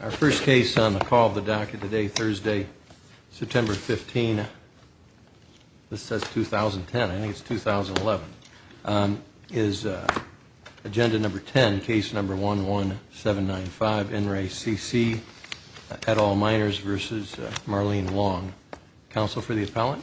Our first case on the call of the docket today Thursday, September 15 This says 2010. I think it's 2011 is Agenda number 10 case number one one seven nine five in re C.C. at all minors versus Marlene long counsel for the appellant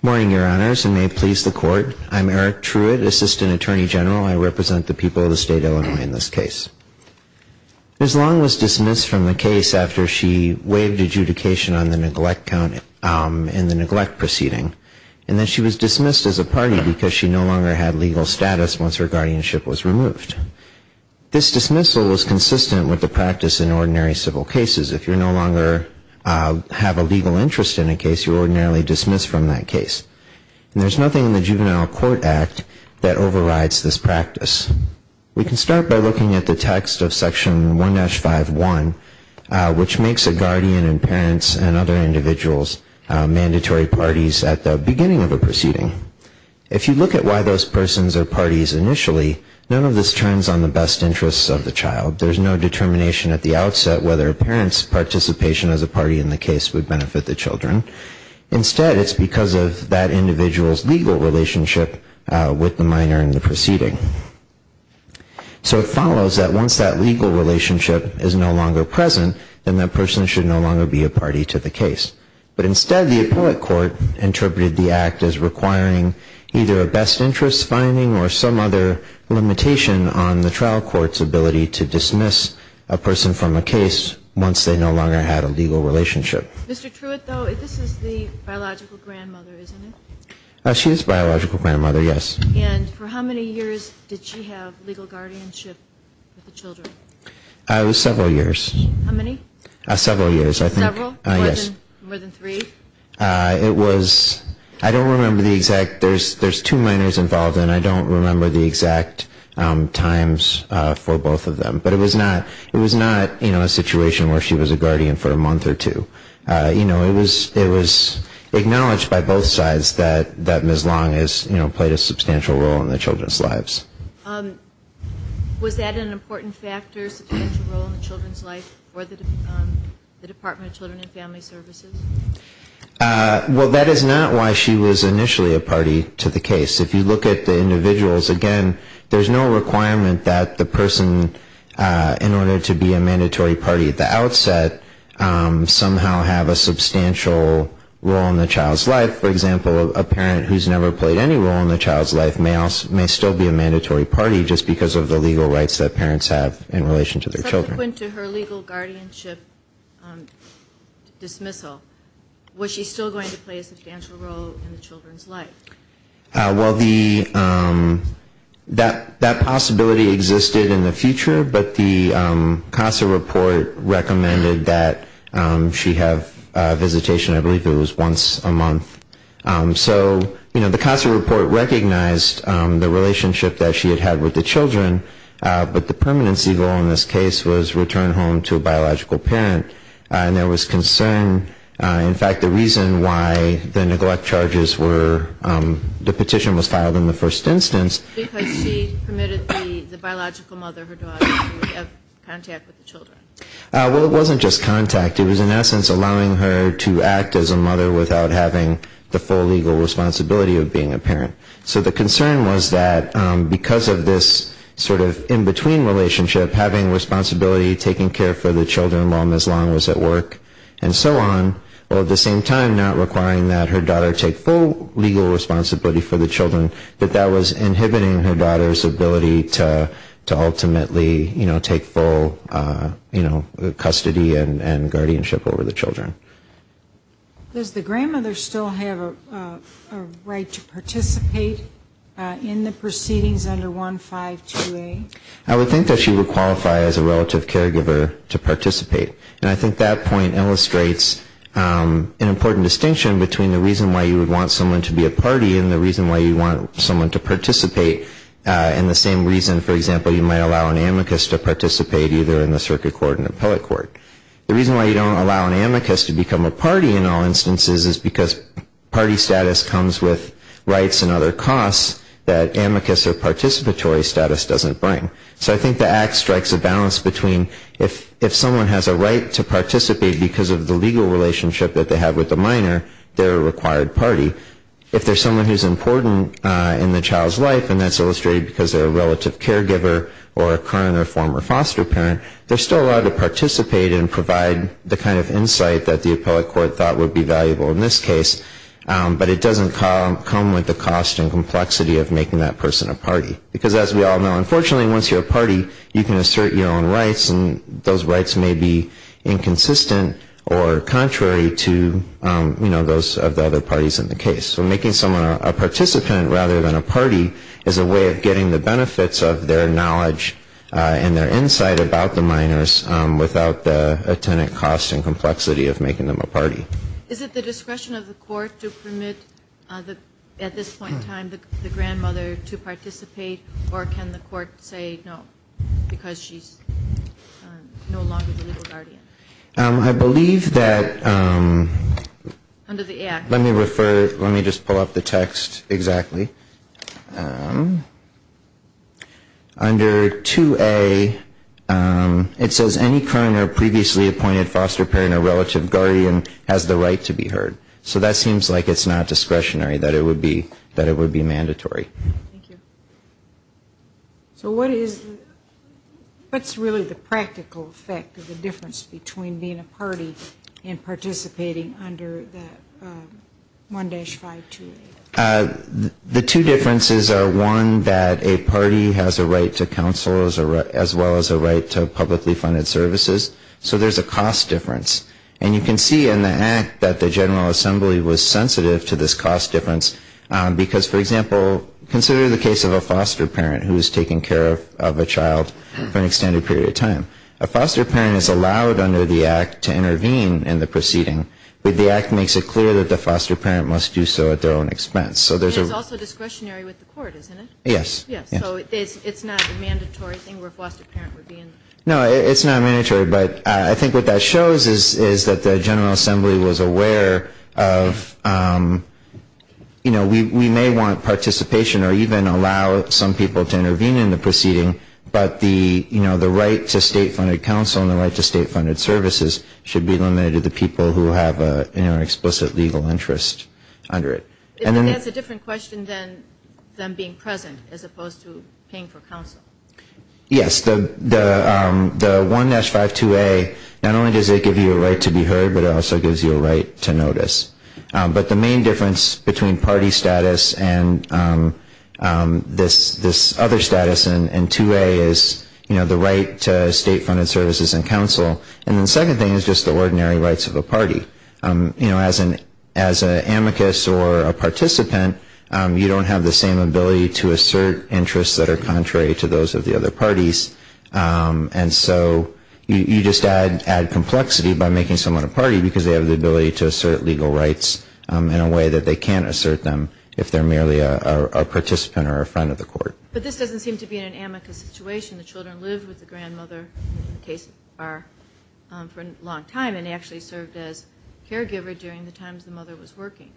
Morning your honors and may please the court. I'm Eric Truitt assistant attorney general. I represent the people of the state of Illinois in this case As long was dismissed from the case after she waived adjudication on the neglect count In the neglect proceeding and then she was dismissed as a party because she no longer had legal status once her guardianship was removed This dismissal was consistent with the practice in ordinary civil cases if you're no longer Have a legal interest in a case you ordinarily dismiss from that case And there's nothing in the Juvenile Court Act that overrides this practice We can start by looking at the text of section 1-5 1 Which makes a guardian and parents and other individuals? Mandatory parties at the beginning of a proceeding if you look at why those persons are parties initially None of this turns on the best interests of the child There's no determination at the outset whether a parent's participation as a party in the case would benefit the children Instead it's because of that individual's legal relationship with the minor in the proceeding So it follows that once that legal relationship is no longer present Then that person should no longer be a party to the case But instead the appellate court interpreted the act as requiring either a best interest finding or some other Limitation on the trial court's ability to dismiss a person from a case once they no longer had a legal relationship She's biological grandmother yes I was several years Several years I think More than three It was I don't remember the exact. There's there's two minors involved, and I don't remember the exact Times for both of them, but it was not it was not you know a situation where she was a guardian for a month Or two you know it was it was Acknowledged by both sides that that miss long is you know played a substantial role in the children's lives Was that an important factor Services Well that is not why she was initially a party to the case if you look at the individuals again There's no requirement that the person In order to be a mandatory party at the outset Somehow have a substantial role in the child's life for example a parent Who's never played any role in the child's life males may still be a mandatory party just because of the legal rights that parents have in relation to their children Dismissal was she still going to play a substantial role in the children's life well the that that possibility existed in the future, but the CASA report Recommended that she have a visitation. I believe it was once a month So you know the CASA report recognized the relationship that she had had with the children But the permanency goal in this case was return home to a biological parent and there was concern in fact the reason why the neglect charges were The petition was filed in the first instance Well it wasn't just contact it was in essence allowing her to act as a mother without having the full legal Sort of in-between relationship having responsibility taking care for the children long as long as at work and so on Well at the same time not requiring that her daughter take full legal responsibility for the children that that was inhibiting her daughter's ability To ultimately you know take full You know custody and guardianship over the children In the proceedings under 1 5 2 a I would think that she would qualify as a relative caregiver to participate And I think that point illustrates An important distinction between the reason why you would want someone to be a party and the reason why you want someone to participate In the same reason for example you might allow an amicus to participate either in the circuit court and appellate court The reason why you don't allow an amicus to become a party in all instances is because party status comes with Costs that amicus or participatory status doesn't bring so I think the act strikes a balance between if If someone has a right to participate because of the legal relationship that they have with the minor They're a required party if there's someone who's important in the child's life And that's illustrated because they're a relative caregiver or a current or former foster parent They're still allowed to participate and provide the kind of insight that the appellate court thought would be valuable in this case But it doesn't come with the cost and complexity of making that person a party because as we all know unfortunately once you're a party You can assert your own rights and those rights may be inconsistent or Contrary to you know those of the other parties in the case So making someone a participant rather than a party is a way of getting the benefits of their knowledge And their insight about the minors without the attendant cost and complexity of making them a party Is it the discretion of the court to permit the at this point in time the grandmother to participate? Or can the court say no? because she's No longer the legal guardian. I believe that Under the act let me refer let me just pull up the text exactly Under 2a It says any current or previously appointed foster parent or relative guardian has the right to be heard So that seems like it's not discretionary that it would be that it would be mandatory So what is What's really the practical effect of the difference between being a party and participating under? 1-5 The two differences are one that a party has a right to counsel as a as well as a right to publicly funded services So there's a cost difference and you can see in the act that the General Assembly was sensitive to this cost difference because for example consider the case of a foster parent who is taking care of a child for an extended period of time a Foster parent is allowed under the act to intervene in the proceeding But the act makes it clear that the foster parent must do so at their own expense So there's also discretionary with the court, isn't it? Yes. Yes No, it's not mandatory but I think what that shows is is that the General Assembly was aware of You know, we may want participation or even allow some people to intervene in the proceeding But the you know The right to state funded counsel and the right to state funded services should be limited to the people who have a you know Explicit legal interest under it and that's a different question than them being present as opposed to paying for counsel yes, the The 1-5 2a not only does it give you a right to be heard, but it also gives you a right to notice but the main difference between party status and This this other status and 2a is you know The right to state funded services and counsel and the second thing is just the ordinary rights of a party You know as an as an amicus or a participant You don't have the same ability to assert interests that are contrary to those of the other parties And so you just add add complexity by making someone a party because they have the ability to assert legal rights In a way that they can't assert them if they're merely a Participant or a friend of the court, but this doesn't seem to be in an amicus situation. The children lived with the grandmother case are For a long time and actually served as caregiver during the times. The mother was working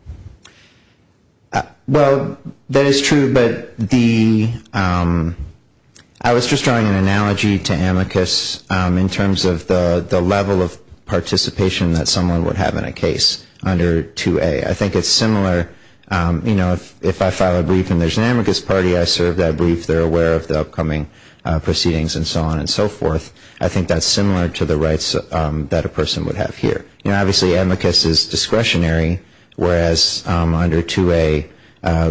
Well, that is true, but the I was just drawing an analogy to amicus in terms of the the level of I think it's similar, you know, if I file a brief and there's an amicus party, I serve that brief They're aware of the upcoming Proceedings and so on and so forth. I think that's similar to the rights that a person would have here you know, obviously amicus is discretionary whereas under to a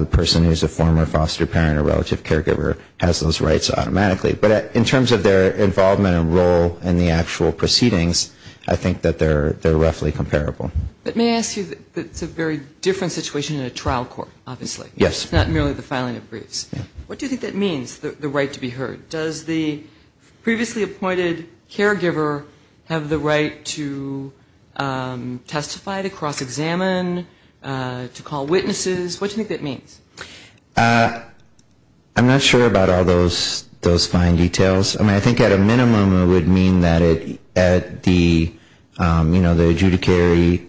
Person who's a former foster parent or relative caregiver has those rights automatically But in terms of their involvement and role in the actual proceedings, I think that they're they're roughly comparable But may I ask you that it's a very different situation in a trial court, obviously. Yes, not merely the filing of briefs What do you think that means the right to be heard does the? previously appointed caregiver have the right to Testify to cross-examine To call witnesses. What do you think that means? I'm not sure about all those those fine details. I mean, I think at a minimum it would mean that it at the You know the adjudicary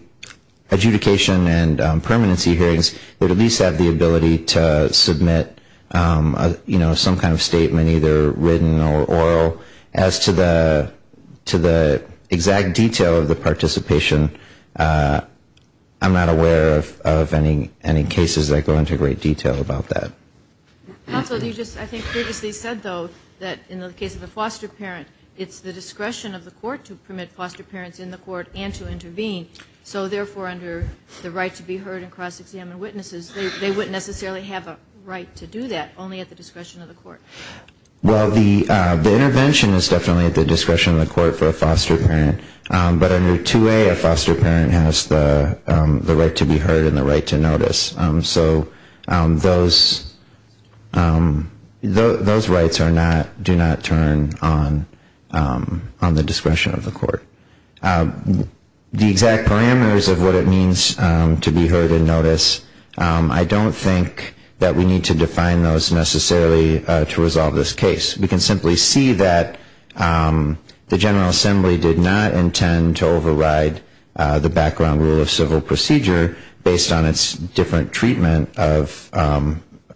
Adjudication and permanency hearings would at least have the ability to submit you know some kind of statement either written or oral as to the to the exact detail of the participation I'm not aware of any any cases that go into great detail about that Also, you just I think previously said though that in the case of the foster parent It's the discretion of the court to permit foster parents in the court and to intervene So therefore under the right to be heard and cross-examine witnesses They wouldn't necessarily have a right to do that only at the discretion of the court well, the intervention is definitely at the discretion of the court for a foster parent, but under 2a a foster parent has the the right to be heard and the right to notice so those Those rights are not do not turn on on the discretion of the court The exact parameters of what it means to be heard and notice I don't think that we need to define those necessarily to resolve this case. We can simply see that The General Assembly did not intend to override the background rule of civil procedure based on its different treatment of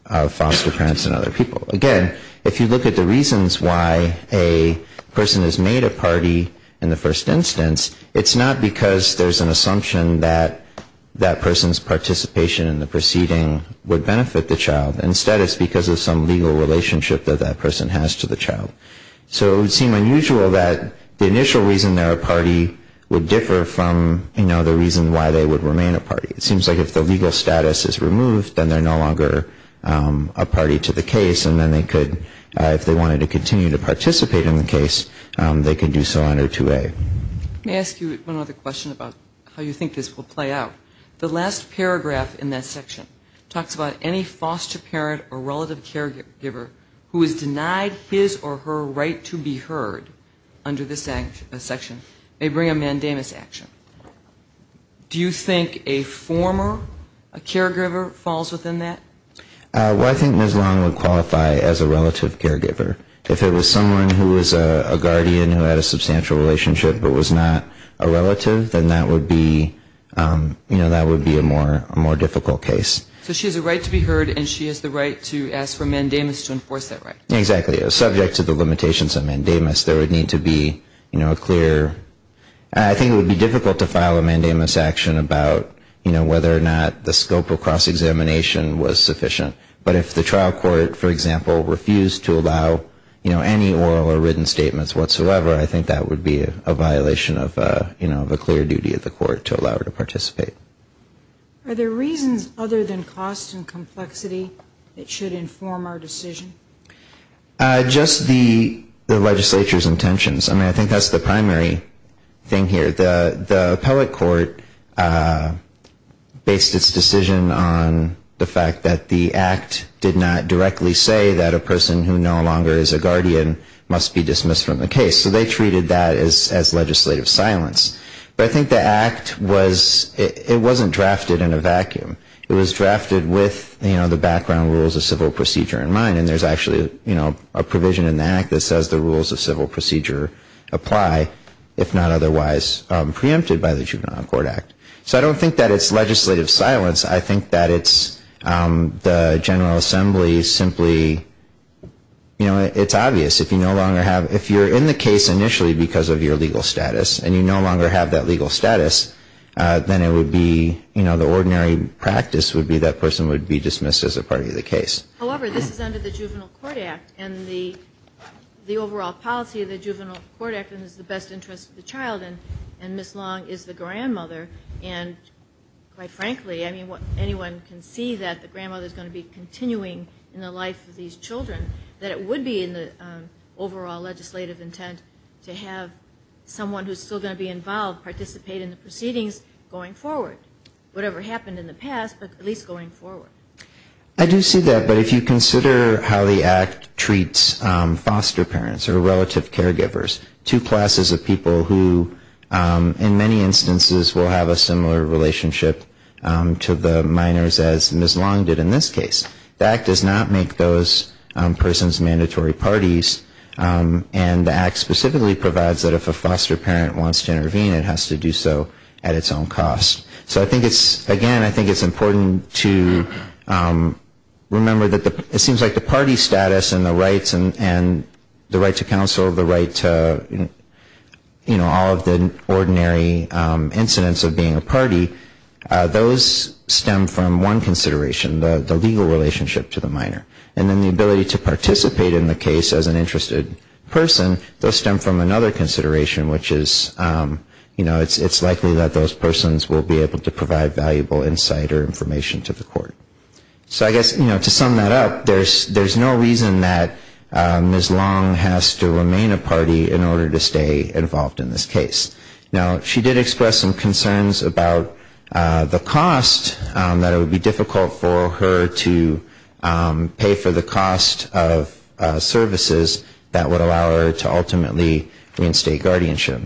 Foster parents and other people again, if you look at the reasons why a Person has made a party in the first instance It's not because there's an assumption that that person's participation in the proceeding would benefit the child instead It's because of some legal relationship that that person has to the child So it would seem unusual that the initial reason they're a party would differ from you know The reason why they would remain a party. It seems like if the legal status is removed then they're no longer A party to the case and then they could if they wanted to continue to participate in the case They can do so under 2a May ask you one other question about how you think this will play out the last paragraph in that section Talks about any foster parent or relative caregiver who is denied his or her right to be heard Under this section may bring a mandamus action Do you think a former a caregiver falls within that Well, I think Ms. Long would qualify as a relative caregiver if it was someone who was a guardian who had a substantial relationship, but was not a relative then that would be You know, that would be a more a more difficult case So she has a right to be heard and she has the right to ask for mandamus to enforce that, right? Exactly a subject to the limitations of mandamus. There would need to be you know a clear I Think it would be difficult to file a mandamus action about you know, whether or not the scope of cross-examination was sufficient But if the trial court, for example refused to allow, you know, any oral or written statements whatsoever I think that would be a violation of you know, the clear duty of the court to allow her to participate Are there reasons other than cost and complexity? It should inform our decision Just the the legislature's intentions. I mean, I think that's the primary Thing here the the appellate court Based its decision on The fact that the act did not directly say that a person who no longer is a guardian Must be dismissed from the case so they treated that as as legislative silence But I think the act was it wasn't drafted in a vacuum It was drafted with you know The background rules of civil procedure in mind and there's actually you know a provision in the act that says the rules of civil procedure Apply if not, otherwise Preempted by the Juvenile Court Act, so I don't think that it's legislative silence. I think that it's the General Assembly simply You know, it's obvious if you no longer have if you're in the case initially because of your legal status and you no longer have that legal status Then it would be you know, the ordinary practice would be that person would be dismissed as a part of the case however, this is under the Juvenile Court Act and the The overall policy of the Juvenile Court Act and is the best interest of the child and and Miss Long is the grandmother and Quite frankly, I mean what anyone can see that the grandmother is going to be continuing in the life of these children that it would be in the overall legislative intent to have Someone who's still going to be involved participate in the proceedings going forward whatever happened in the past, but at least going forward I do see that but if you consider how the act treats Foster parents or relative caregivers two classes of people who? In many instances will have a similar relationship To the minors as Miss Long did in this case that does not make those persons mandatory parties And the act specifically provides that if a foster parent wants to intervene it has to do so at its own cost So I think it's again. I think it's important to Remember that the it seems like the party status and the rights and and the right to counsel the right to You know all of the ordinary incidents of being a party those stem from one consideration the legal relationship to the minor and then the ability to Participate in the case as an interested person those stem from another consideration, which is You know it's it's likely that those persons will be able to provide valuable insight or information to the court So I guess you know to sum that up. There's there's no reason that Miss Long has to remain a party in order to stay involved in this case now. She did express some concerns about the cost that it would be difficult for her to pay for the cost of Services that would allow her to ultimately reinstate guardianship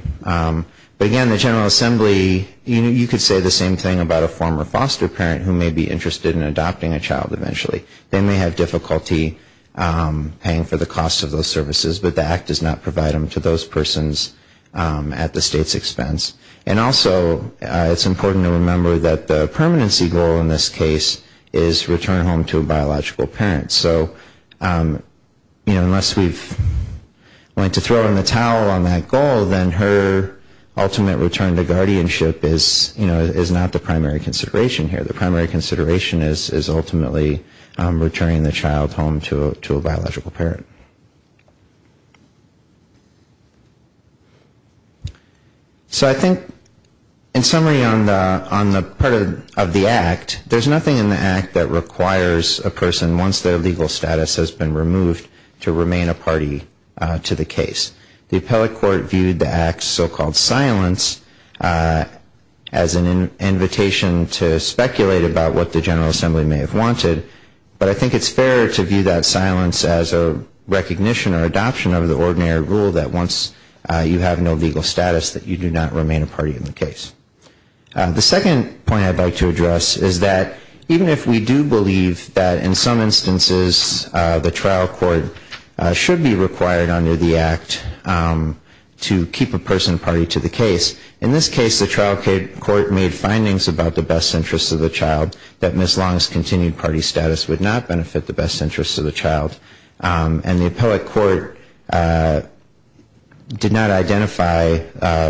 Again the General Assembly You know you could say the same thing about a former foster parent who may be interested in adopting a child eventually they may have difficulty Paying for the cost of those services, but the act does not provide them to those persons At the state's expense and also it's important to remember that the permanency goal in this case is return home to a biological parents, so you know unless we've To throw in the towel on that goal then her Ultimate return to guardianship is you know is not the primary consideration here the primary consideration is is ultimately Returning the child home to a biological parent So I think in summary on the on the part of the act There's nothing in the act that requires a person once their legal status has been removed to remain a party To the case the appellate court viewed the acts so-called silence as an invitation to speculate about what the General Assembly may have wanted but I think it's fair to view that silence as a Recognition or adoption of the ordinary rule that once you have no legal status that you do not remain a party in the case The second point I'd like to address is that even if we do believe that in some instances The trial court should be required under the act To keep a person party to the case in this case the trial Court made findings about the best interests of the child that Miss Long's continued party status would not benefit the best interests of the child and the appellate court Did not identify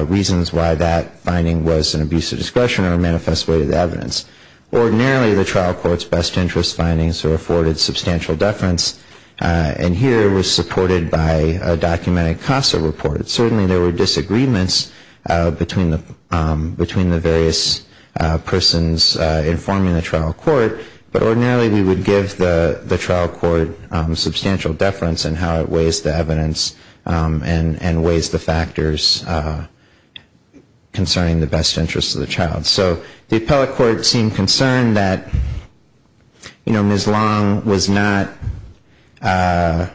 Reasons why that finding was an abuse of discretion or a manifest way of the evidence Ordinarily the trial courts best interest findings were afforded substantial deference And here was supported by a documentic CASA report. It certainly there were disagreements between the between the various Persons informing the trial court, but ordinarily we would give the the trial court Substantial deference and how it weighs the evidence And and weighs the factors Concerning the best interests of the child so the appellate court seemed concerned that You know Miss Long was not You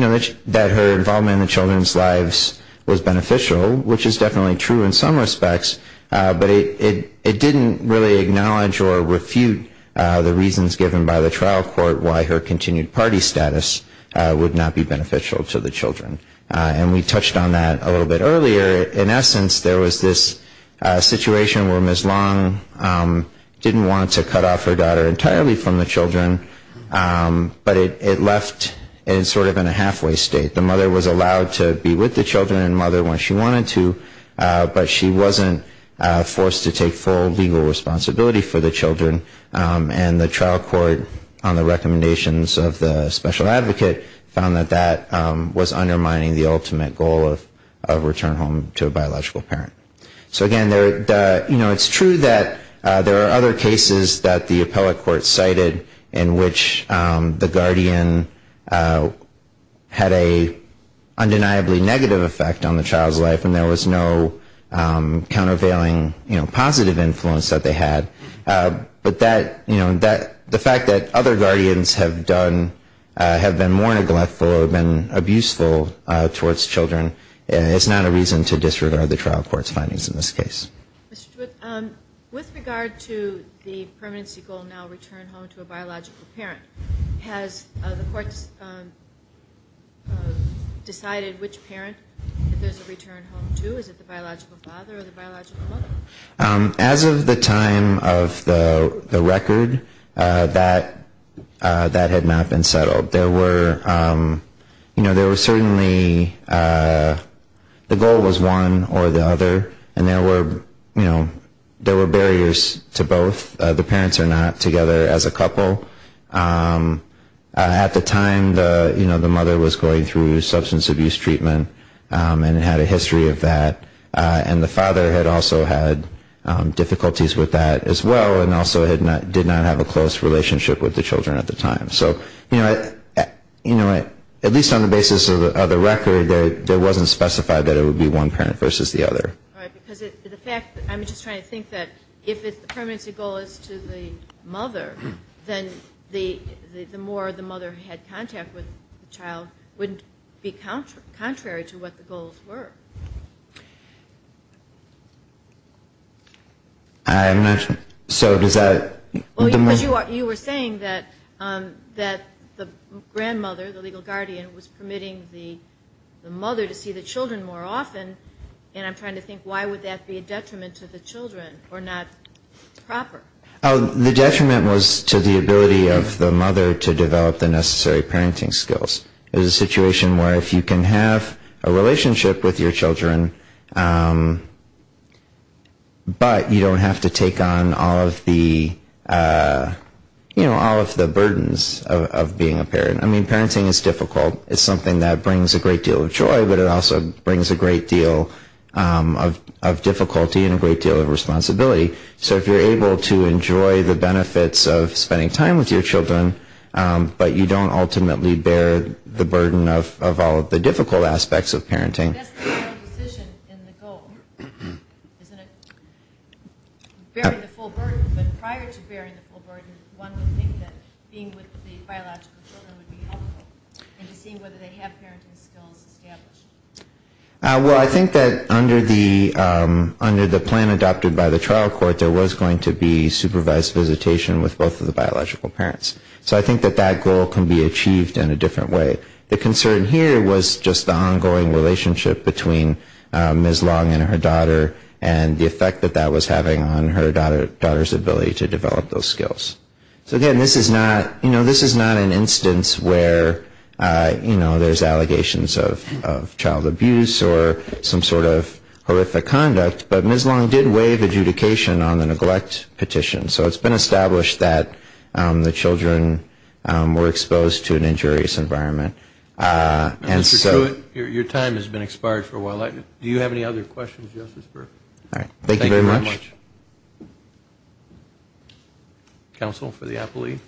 know that her involvement in the children's lives was beneficial which is definitely true in some respects But it it didn't really acknowledge or refute the reasons given by the trial court why her continued party status Would not be beneficial to the children and we touched on that a little bit earlier in essence there was this situation where Miss Long Didn't want to cut off her daughter entirely from the children But it left in sort of in a halfway state the mother was allowed to be with the children and mother when she wanted to But she wasn't Forced to take full legal responsibility for the children And the trial court on the recommendations of the special advocate found that that Was undermining the ultimate goal of of return home to a biological parent so again there You know it's true that there are other cases that the appellate court cited in which the guardian Had a Undeniably negative effect on the child's life, and there was no countervailing you know positive influence that they had But that you know that the fact that other guardians have done Have been more neglectful or been abuseful Towards children, and it's not a reason to disregard the trial court's findings in this case With regard to the permanency goal now return home to a biological parent has the courts Decided which parent As of the time of the record that that had not been settled there were You know there was certainly The goal was one or the other and there were you know there were barriers to both the parents are not together as a couple At the time the you know the mother was going through substance abuse treatment And it had a history of that and the father had also had Difficulties with that as well and also had not did not have a close relationship with the children at the time so you know You know it at least on the basis of the record that there wasn't specified that it would be one parent versus the other If it's the permanency goal is to the mother then the The more the mother had contact with the child wouldn't be counter contrary to what the goals were I'm not so does that you were saying that that the grandmother the legal guardian was permitting the Mother to see the children more often, and I'm trying to think why would that be a detriment to the children or not? The detriment was to the ability of the mother to develop the necessary parenting skills It is a situation where if you can have a relationship with your children But you don't have to take on all of the You know all of the burdens of being a parent. I mean parenting is difficult It's something that brings a great deal of joy, but it also brings a great deal of Difficulty and a great deal of responsibility, so if you're able to enjoy the benefits of spending time with your children But you don't ultimately bear the burden of all of the difficult aspects of parenting In the goal Well, I think that under the Under the plan adopted by the trial court there was going to be supervised visitation with both of the biological parents So I think that that goal can be achieved in a different way the concern here was just the ongoing relationship between Ms.. Long and her daughter and the effect that that was having on her daughter daughter's ability to develop those skills So again, this is not you know. This is not an instance where? You know there's allegations of child abuse or some sort of horrific conduct But Ms.. Long did waive adjudication on the neglect petition, so it's been established that the children Were exposed to an injurious environment And so your time has been expired for a while, I do you have any other questions justice for all right. Thank you very much Counsel for the Apple II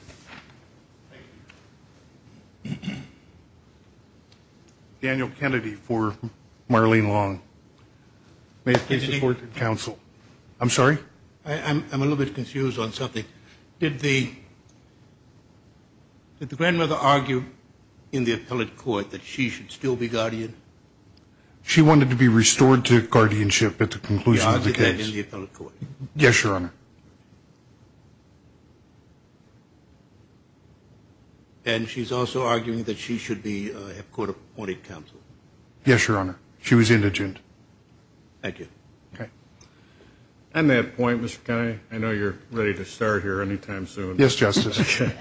Daniel Kennedy for Marlene long May support counsel. I'm sorry. I'm a little bit confused on something did the Did the grandmother argue in the appellate court that she should still be guardian She wanted to be restored to guardianship at the conclusion of the case Yes, your honor And she's also arguing that she should be a court-appointed counsel yes, your honor. She was indigent Thank you, okay And that point was guy I know you're ready to start here anytime soon yes justice, okay?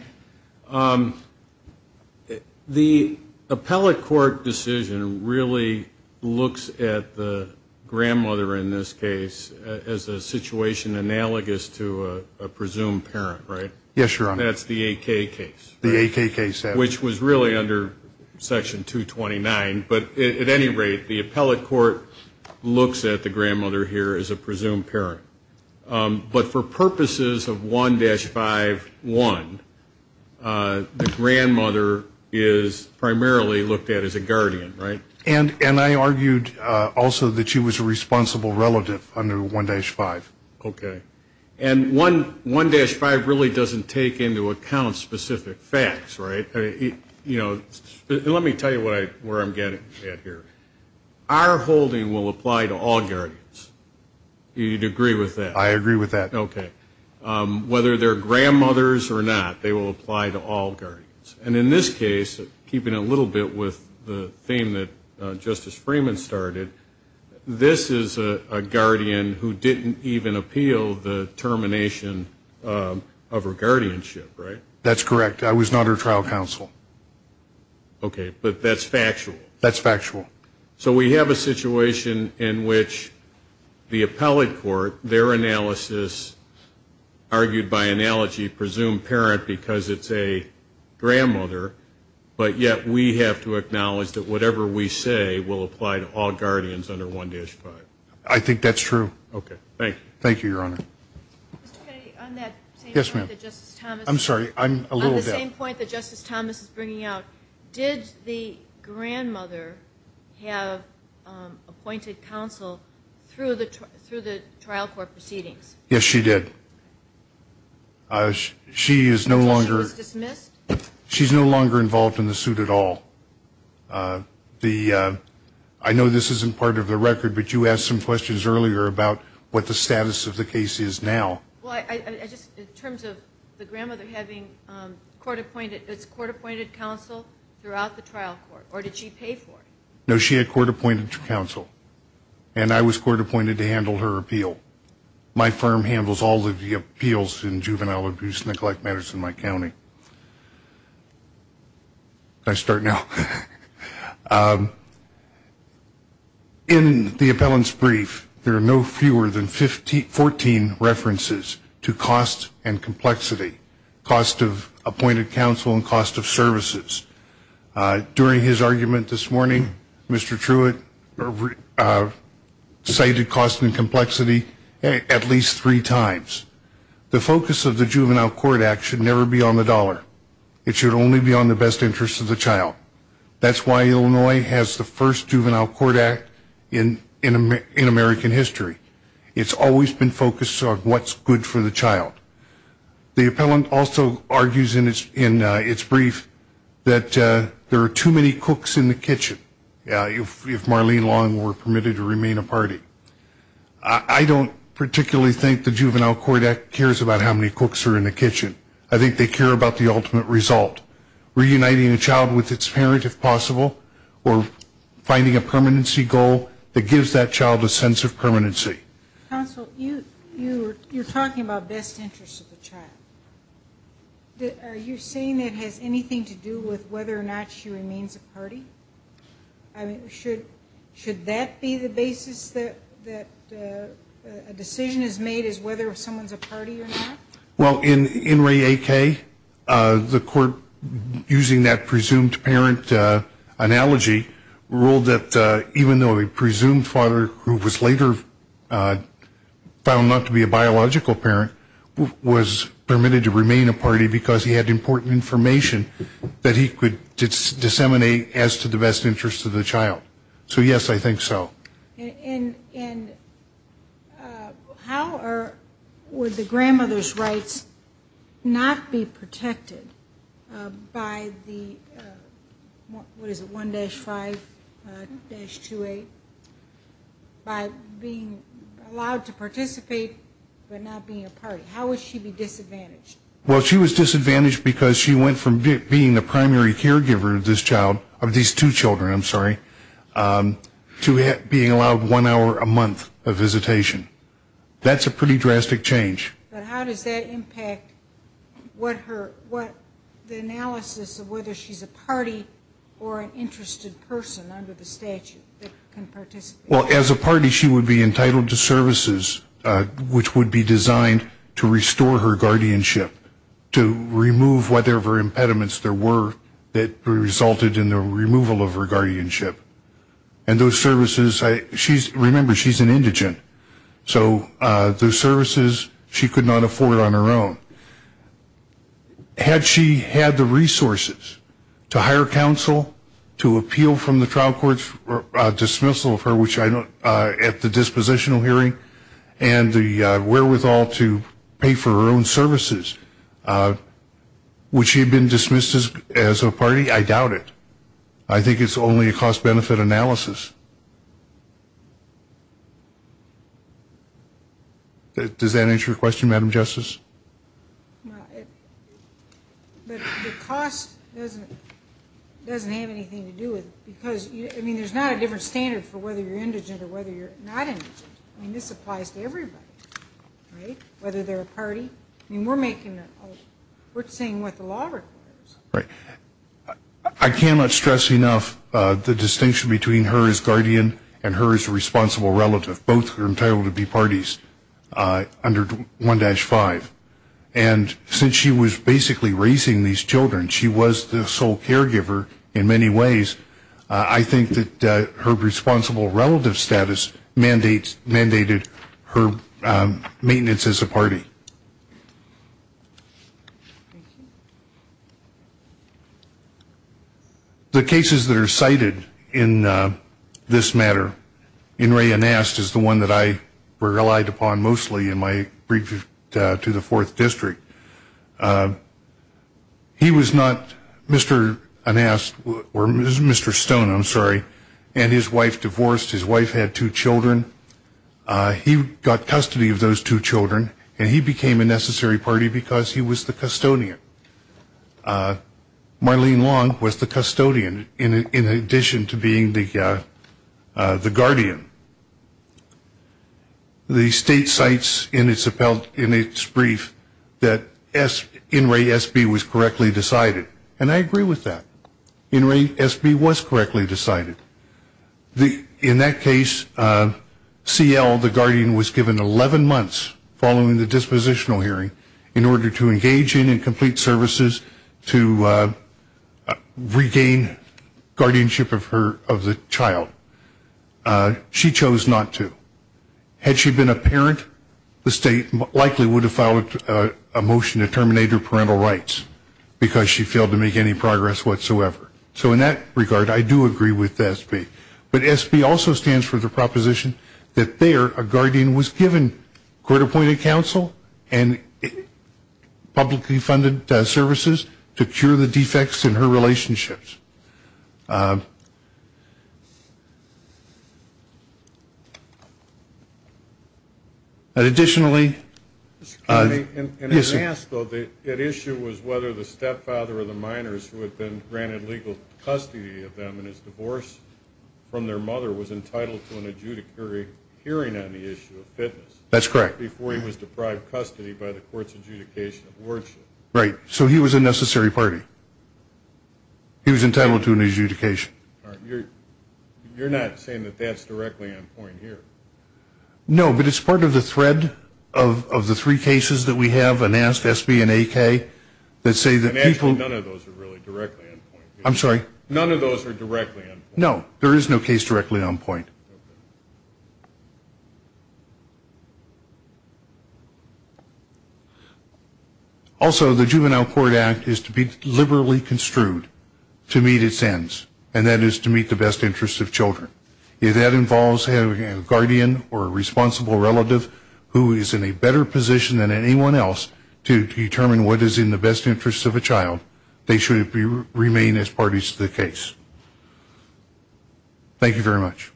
the appellate court decision really looks at the Grandmother in this case as a situation analogous to a presumed parent, right? Yes, your honor. That's the 8k case the 8k case which was really under Section 229, but at any rate the appellate court Looks at the grandmother here as a presumed parent, but for purposes of 1-5 1 the grandmother is Primarily looked at as a guardian right and and I argued also that she was a responsible relative under 1-5 Okay, and one 1-5 really doesn't take into account specific facts, right? You know let me tell you what I where I'm getting at here Our holding will apply to all guardians You'd agree with that I agree with that, okay? Whether they're grandmothers or not they will apply to all guardians and in this case Keeping a little bit with the theme that justice Freeman started This is a guardian who didn't even appeal the termination Of her guardianship right that's correct. I was not her trial counsel Okay, but that's factual that's factual so we have a situation in which the appellate court their analysis argued by analogy presumed parent because it's a Grandmother, but yet we have to acknowledge that whatever we say will apply to all guardians under 1-5. I think that's true Okay, thank you. Thank you your honor On that yes, ma'am. I'm sorry. I'm a little point that justice Thomas is bringing out did the grandmother have Appointed counsel through the through the trial court proceedings. Yes, she did She is no longer She's no longer involved in the suit at all the I Know this isn't part of the record, but you asked some questions earlier about what the status of the case is now Well, I just in terms of the grandmother having Court-appointed its court-appointed counsel throughout the trial court or did she pay for no she had court-appointed to counsel And I was court-appointed to handle her appeal My firm handles all of the appeals in juvenile abuse neglect matters in my county I Start now In The appellants brief there are no fewer than 15 14 references to cost and complexity cost of appointed counsel and cost of services During his argument this morning, mr. Truitt Cited cost and complexity at least three times The focus of the juvenile court act should never be on the dollar. It should only be on the best interest of the child That's why Illinois has the first juvenile court act in in American history, it's always been focused on what's good for the child The appellant also argues in its in its brief that there are too many cooks in the kitchen Yeah, if Marlene long were permitted to remain a party I Don't particularly think the juvenile court act cares about how many cooks are in the kitchen. I think they care about the ultimate result Reuniting a child with its parent if possible or Finding a permanency goal that gives that child a sense of permanency You're talking about best interest of the child Are you saying that has anything to do with whether or not she remains a party? I mean should should that be the basis that that a Decision is made is whether if someone's a party or not well in in Ray a K The court using that presumed parent Analogy ruled that even though a presumed father who was later Found not to be a biological parent Was permitted to remain a party because he had important information That he could disseminate as to the best interest of the child. So yes, I think so How are with the grandmother's rights Not be protected by the What is it 1-5-28? By being Allowed to participate but not being a party. How would she be disadvantaged? Well, she was disadvantaged because she went from being the primary caregiver of this child of these two children. I'm sorry To being allowed one hour a month of visitation That's a pretty drastic change Well as a party she would be entitled to services Which would be designed to restore her guardianship to remove whatever impediments there were That resulted in the removal of her guardianship and those services. I she's remember she's an indigent So those services she could not afford on her own Had she had the resources to hire counsel to appeal from the trial courts Dismissal of her which I know at the dispositional hearing and the wherewithal to pay for her own services Would she had been dismissed as a party I doubt it. I think it's only a cost-benefit analysis That does that answer your question madam justice The cost doesn't Doesn't have anything to do with because I mean there's not a different standard for whether you're indigent or whether you're not in I mean this applies to everybody Right, whether they're a party and we're making it. We're saying what the law requires, right? I Distinction between her as guardian and her as a responsible relative both are entitled to be parties under 1-5 and Since she was basically raising these children. She was the sole caregiver in many ways I think that her responsible relative status mandates mandated her maintenance as a party The Cases that are cited in This matter in Ray and asked is the one that I were relied upon mostly in my brief to the 4th district He was not mr. Unasked or mr. Stone, I'm sorry and his wife divorced his wife had two children He got custody of those two children and he became a necessary party because he was the custodian Marlene long was the custodian in in addition to being the the guardian The state sites in its appellate in its brief that s in Ray SB was correctly decided and I agree with that In Ray SB was correctly decided the in that case CL the guardian was given 11 months following the dispositional hearing in order to engage in and complete services to Regain guardianship of her of the child She chose not to Had she been a parent the state likely would have followed a motion to terminate her parental rights Because she failed to make any progress whatsoever So in that regard I do agree with SB but SB also stands for the proposition that they are a guardian was given court-appointed counsel and Publicly funded services to cure the defects in her relationships But additionally And yes, so the issue was whether the stepfather or the minors who had been granted legal custody of them and his divorce From their mother was entitled to an adjudicator Hearing on the issue of fitness. That's correct before he was deprived custody by the courts adjudication of wards, right? So he was a necessary party He was entitled to an adjudication You're not saying that that's directly on point here No, but it's part of the thread of The three cases that we have and asked SB and a K that say that people I'm sorry. None of those are directly. No, there is no case directly on point Also the juvenile court act is to be liberally construed To meet its ends and that is to meet the best interests of children if that involves having a guardian or a Responsible relative who is in a better position than anyone else to determine what is in the best interest of a child They should remain as parties to the case Thank you very much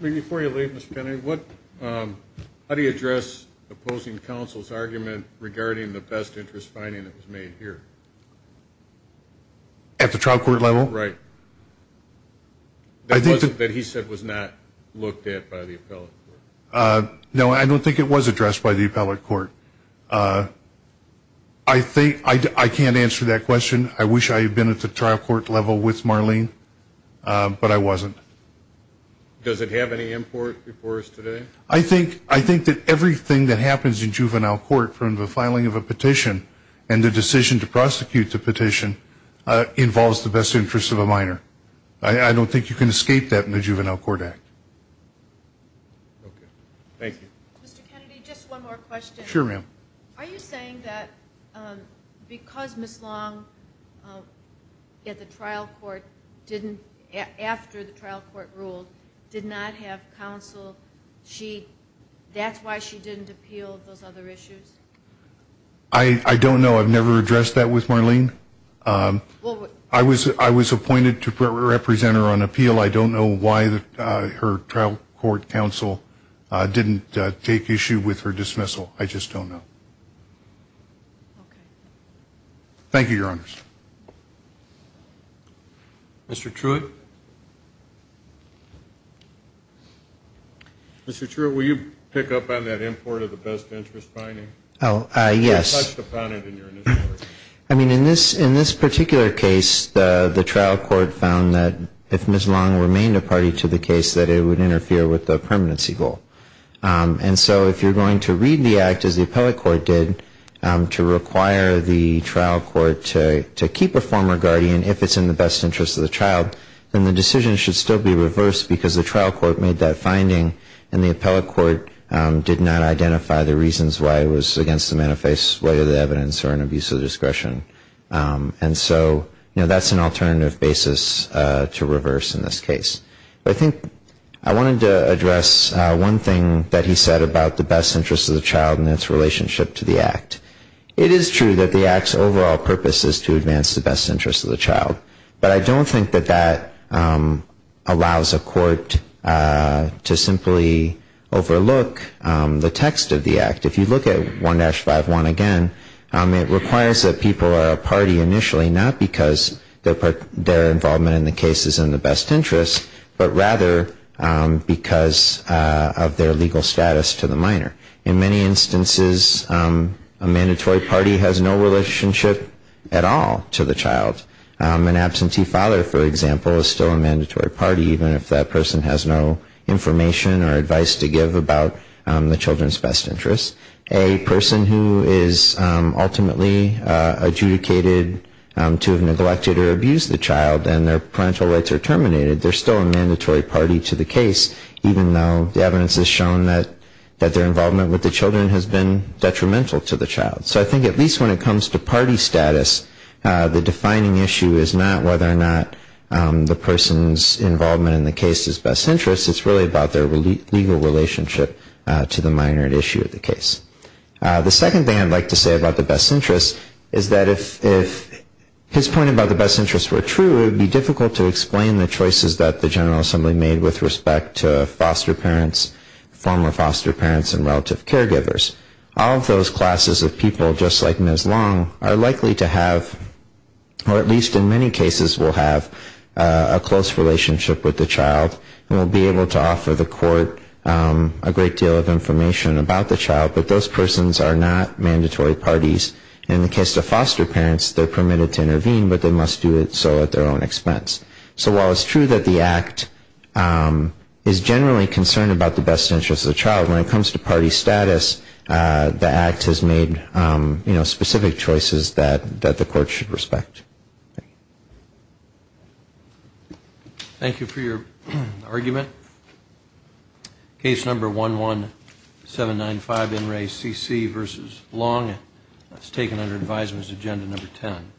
How do you address opposing counsel's argument regarding the best interest finding that was made here At the trial court level, right? I think that he said was not looked at by the appellate. No, I don't think it was addressed by the appellate court. I Think I can't answer that question. I wish I had been at the trial court level with Marlene But I wasn't Does it have any import before us today? I think I think that everything that happens in juvenile court from the filing of a petition and the decision to prosecute the petition Involves the best interest of a minor. I don't think you can escape that in the juvenile court act Thank you Sure, ma'am Because miss long At the trial court didn't after the trial court ruled did not have counsel she That's why she didn't appeal those other issues. I Don't know. I've never addressed that with Marlene. I was I was appointed to represent her on appeal I don't know why that her trial court counsel Didn't take issue with her dismissal. I just don't know Thank you your honors Mr. Truitt Mr. Truitt, will you pick up on that import of the best interest finding? Oh, yes I mean in this in this particular case The trial court found that if miss long remained a party to the case that it would interfere with the permanency goal And so if you're going to read the act as the appellate court did To require the trial court to to keep a former guardian if it's in the best interest of the child Then the decision should still be reversed because the trial court made that finding and the appellate court Did not identify the reasons why it was against the manifest way of the evidence or an abuse of discretion And so, you know, that's an alternative basis to reverse in this case I think I wanted to address One thing that he said about the best interest of the child and its relationship to the act It is true that the acts overall purpose is to advance the best interest of the child, but I don't think that that allows a court to simply Overlook the text of the act if you look at 1-5-1 again It requires that people are a party initially not because their part their involvement in the case is in the best interest, but rather because of their legal status to the minor in many instances a Mandatory party has no relationship at all to the child An absentee father for example is still a mandatory party even if that person has no information or advice to give about the children's best interest a person who is ultimately Adjudicated to have neglected or abused the child and their parental rights are terminated They're still a mandatory party to the case Even though the evidence has shown that that their involvement with the children has been detrimental to the child So I think at least when it comes to party status The defining issue is not whether or not The person's involvement in the case is best interest. It's really about their legal relationship to the minor at issue of the case the second thing I'd like to say about the best interest is that if His point about the best interest were true It would be difficult to explain the choices that the General Assembly made with respect to foster parents former foster parents and relative caregivers all of those classes of people just like Ms. Long are likely to have Or at least in many cases we'll have a close relationship with the child and we'll be able to offer the court A great deal of information about the child, but those persons are not mandatory parties in the case of foster parents They're permitted to intervene, but they must do it so at their own expense so while it's true that the act Is generally concerned about the best interest of the child when it comes to party status? The act has made you know specific choices that that the court should respect Thank you for your argument Case number one one 795 in Ray CC versus long that's taken under advisers agenda number 10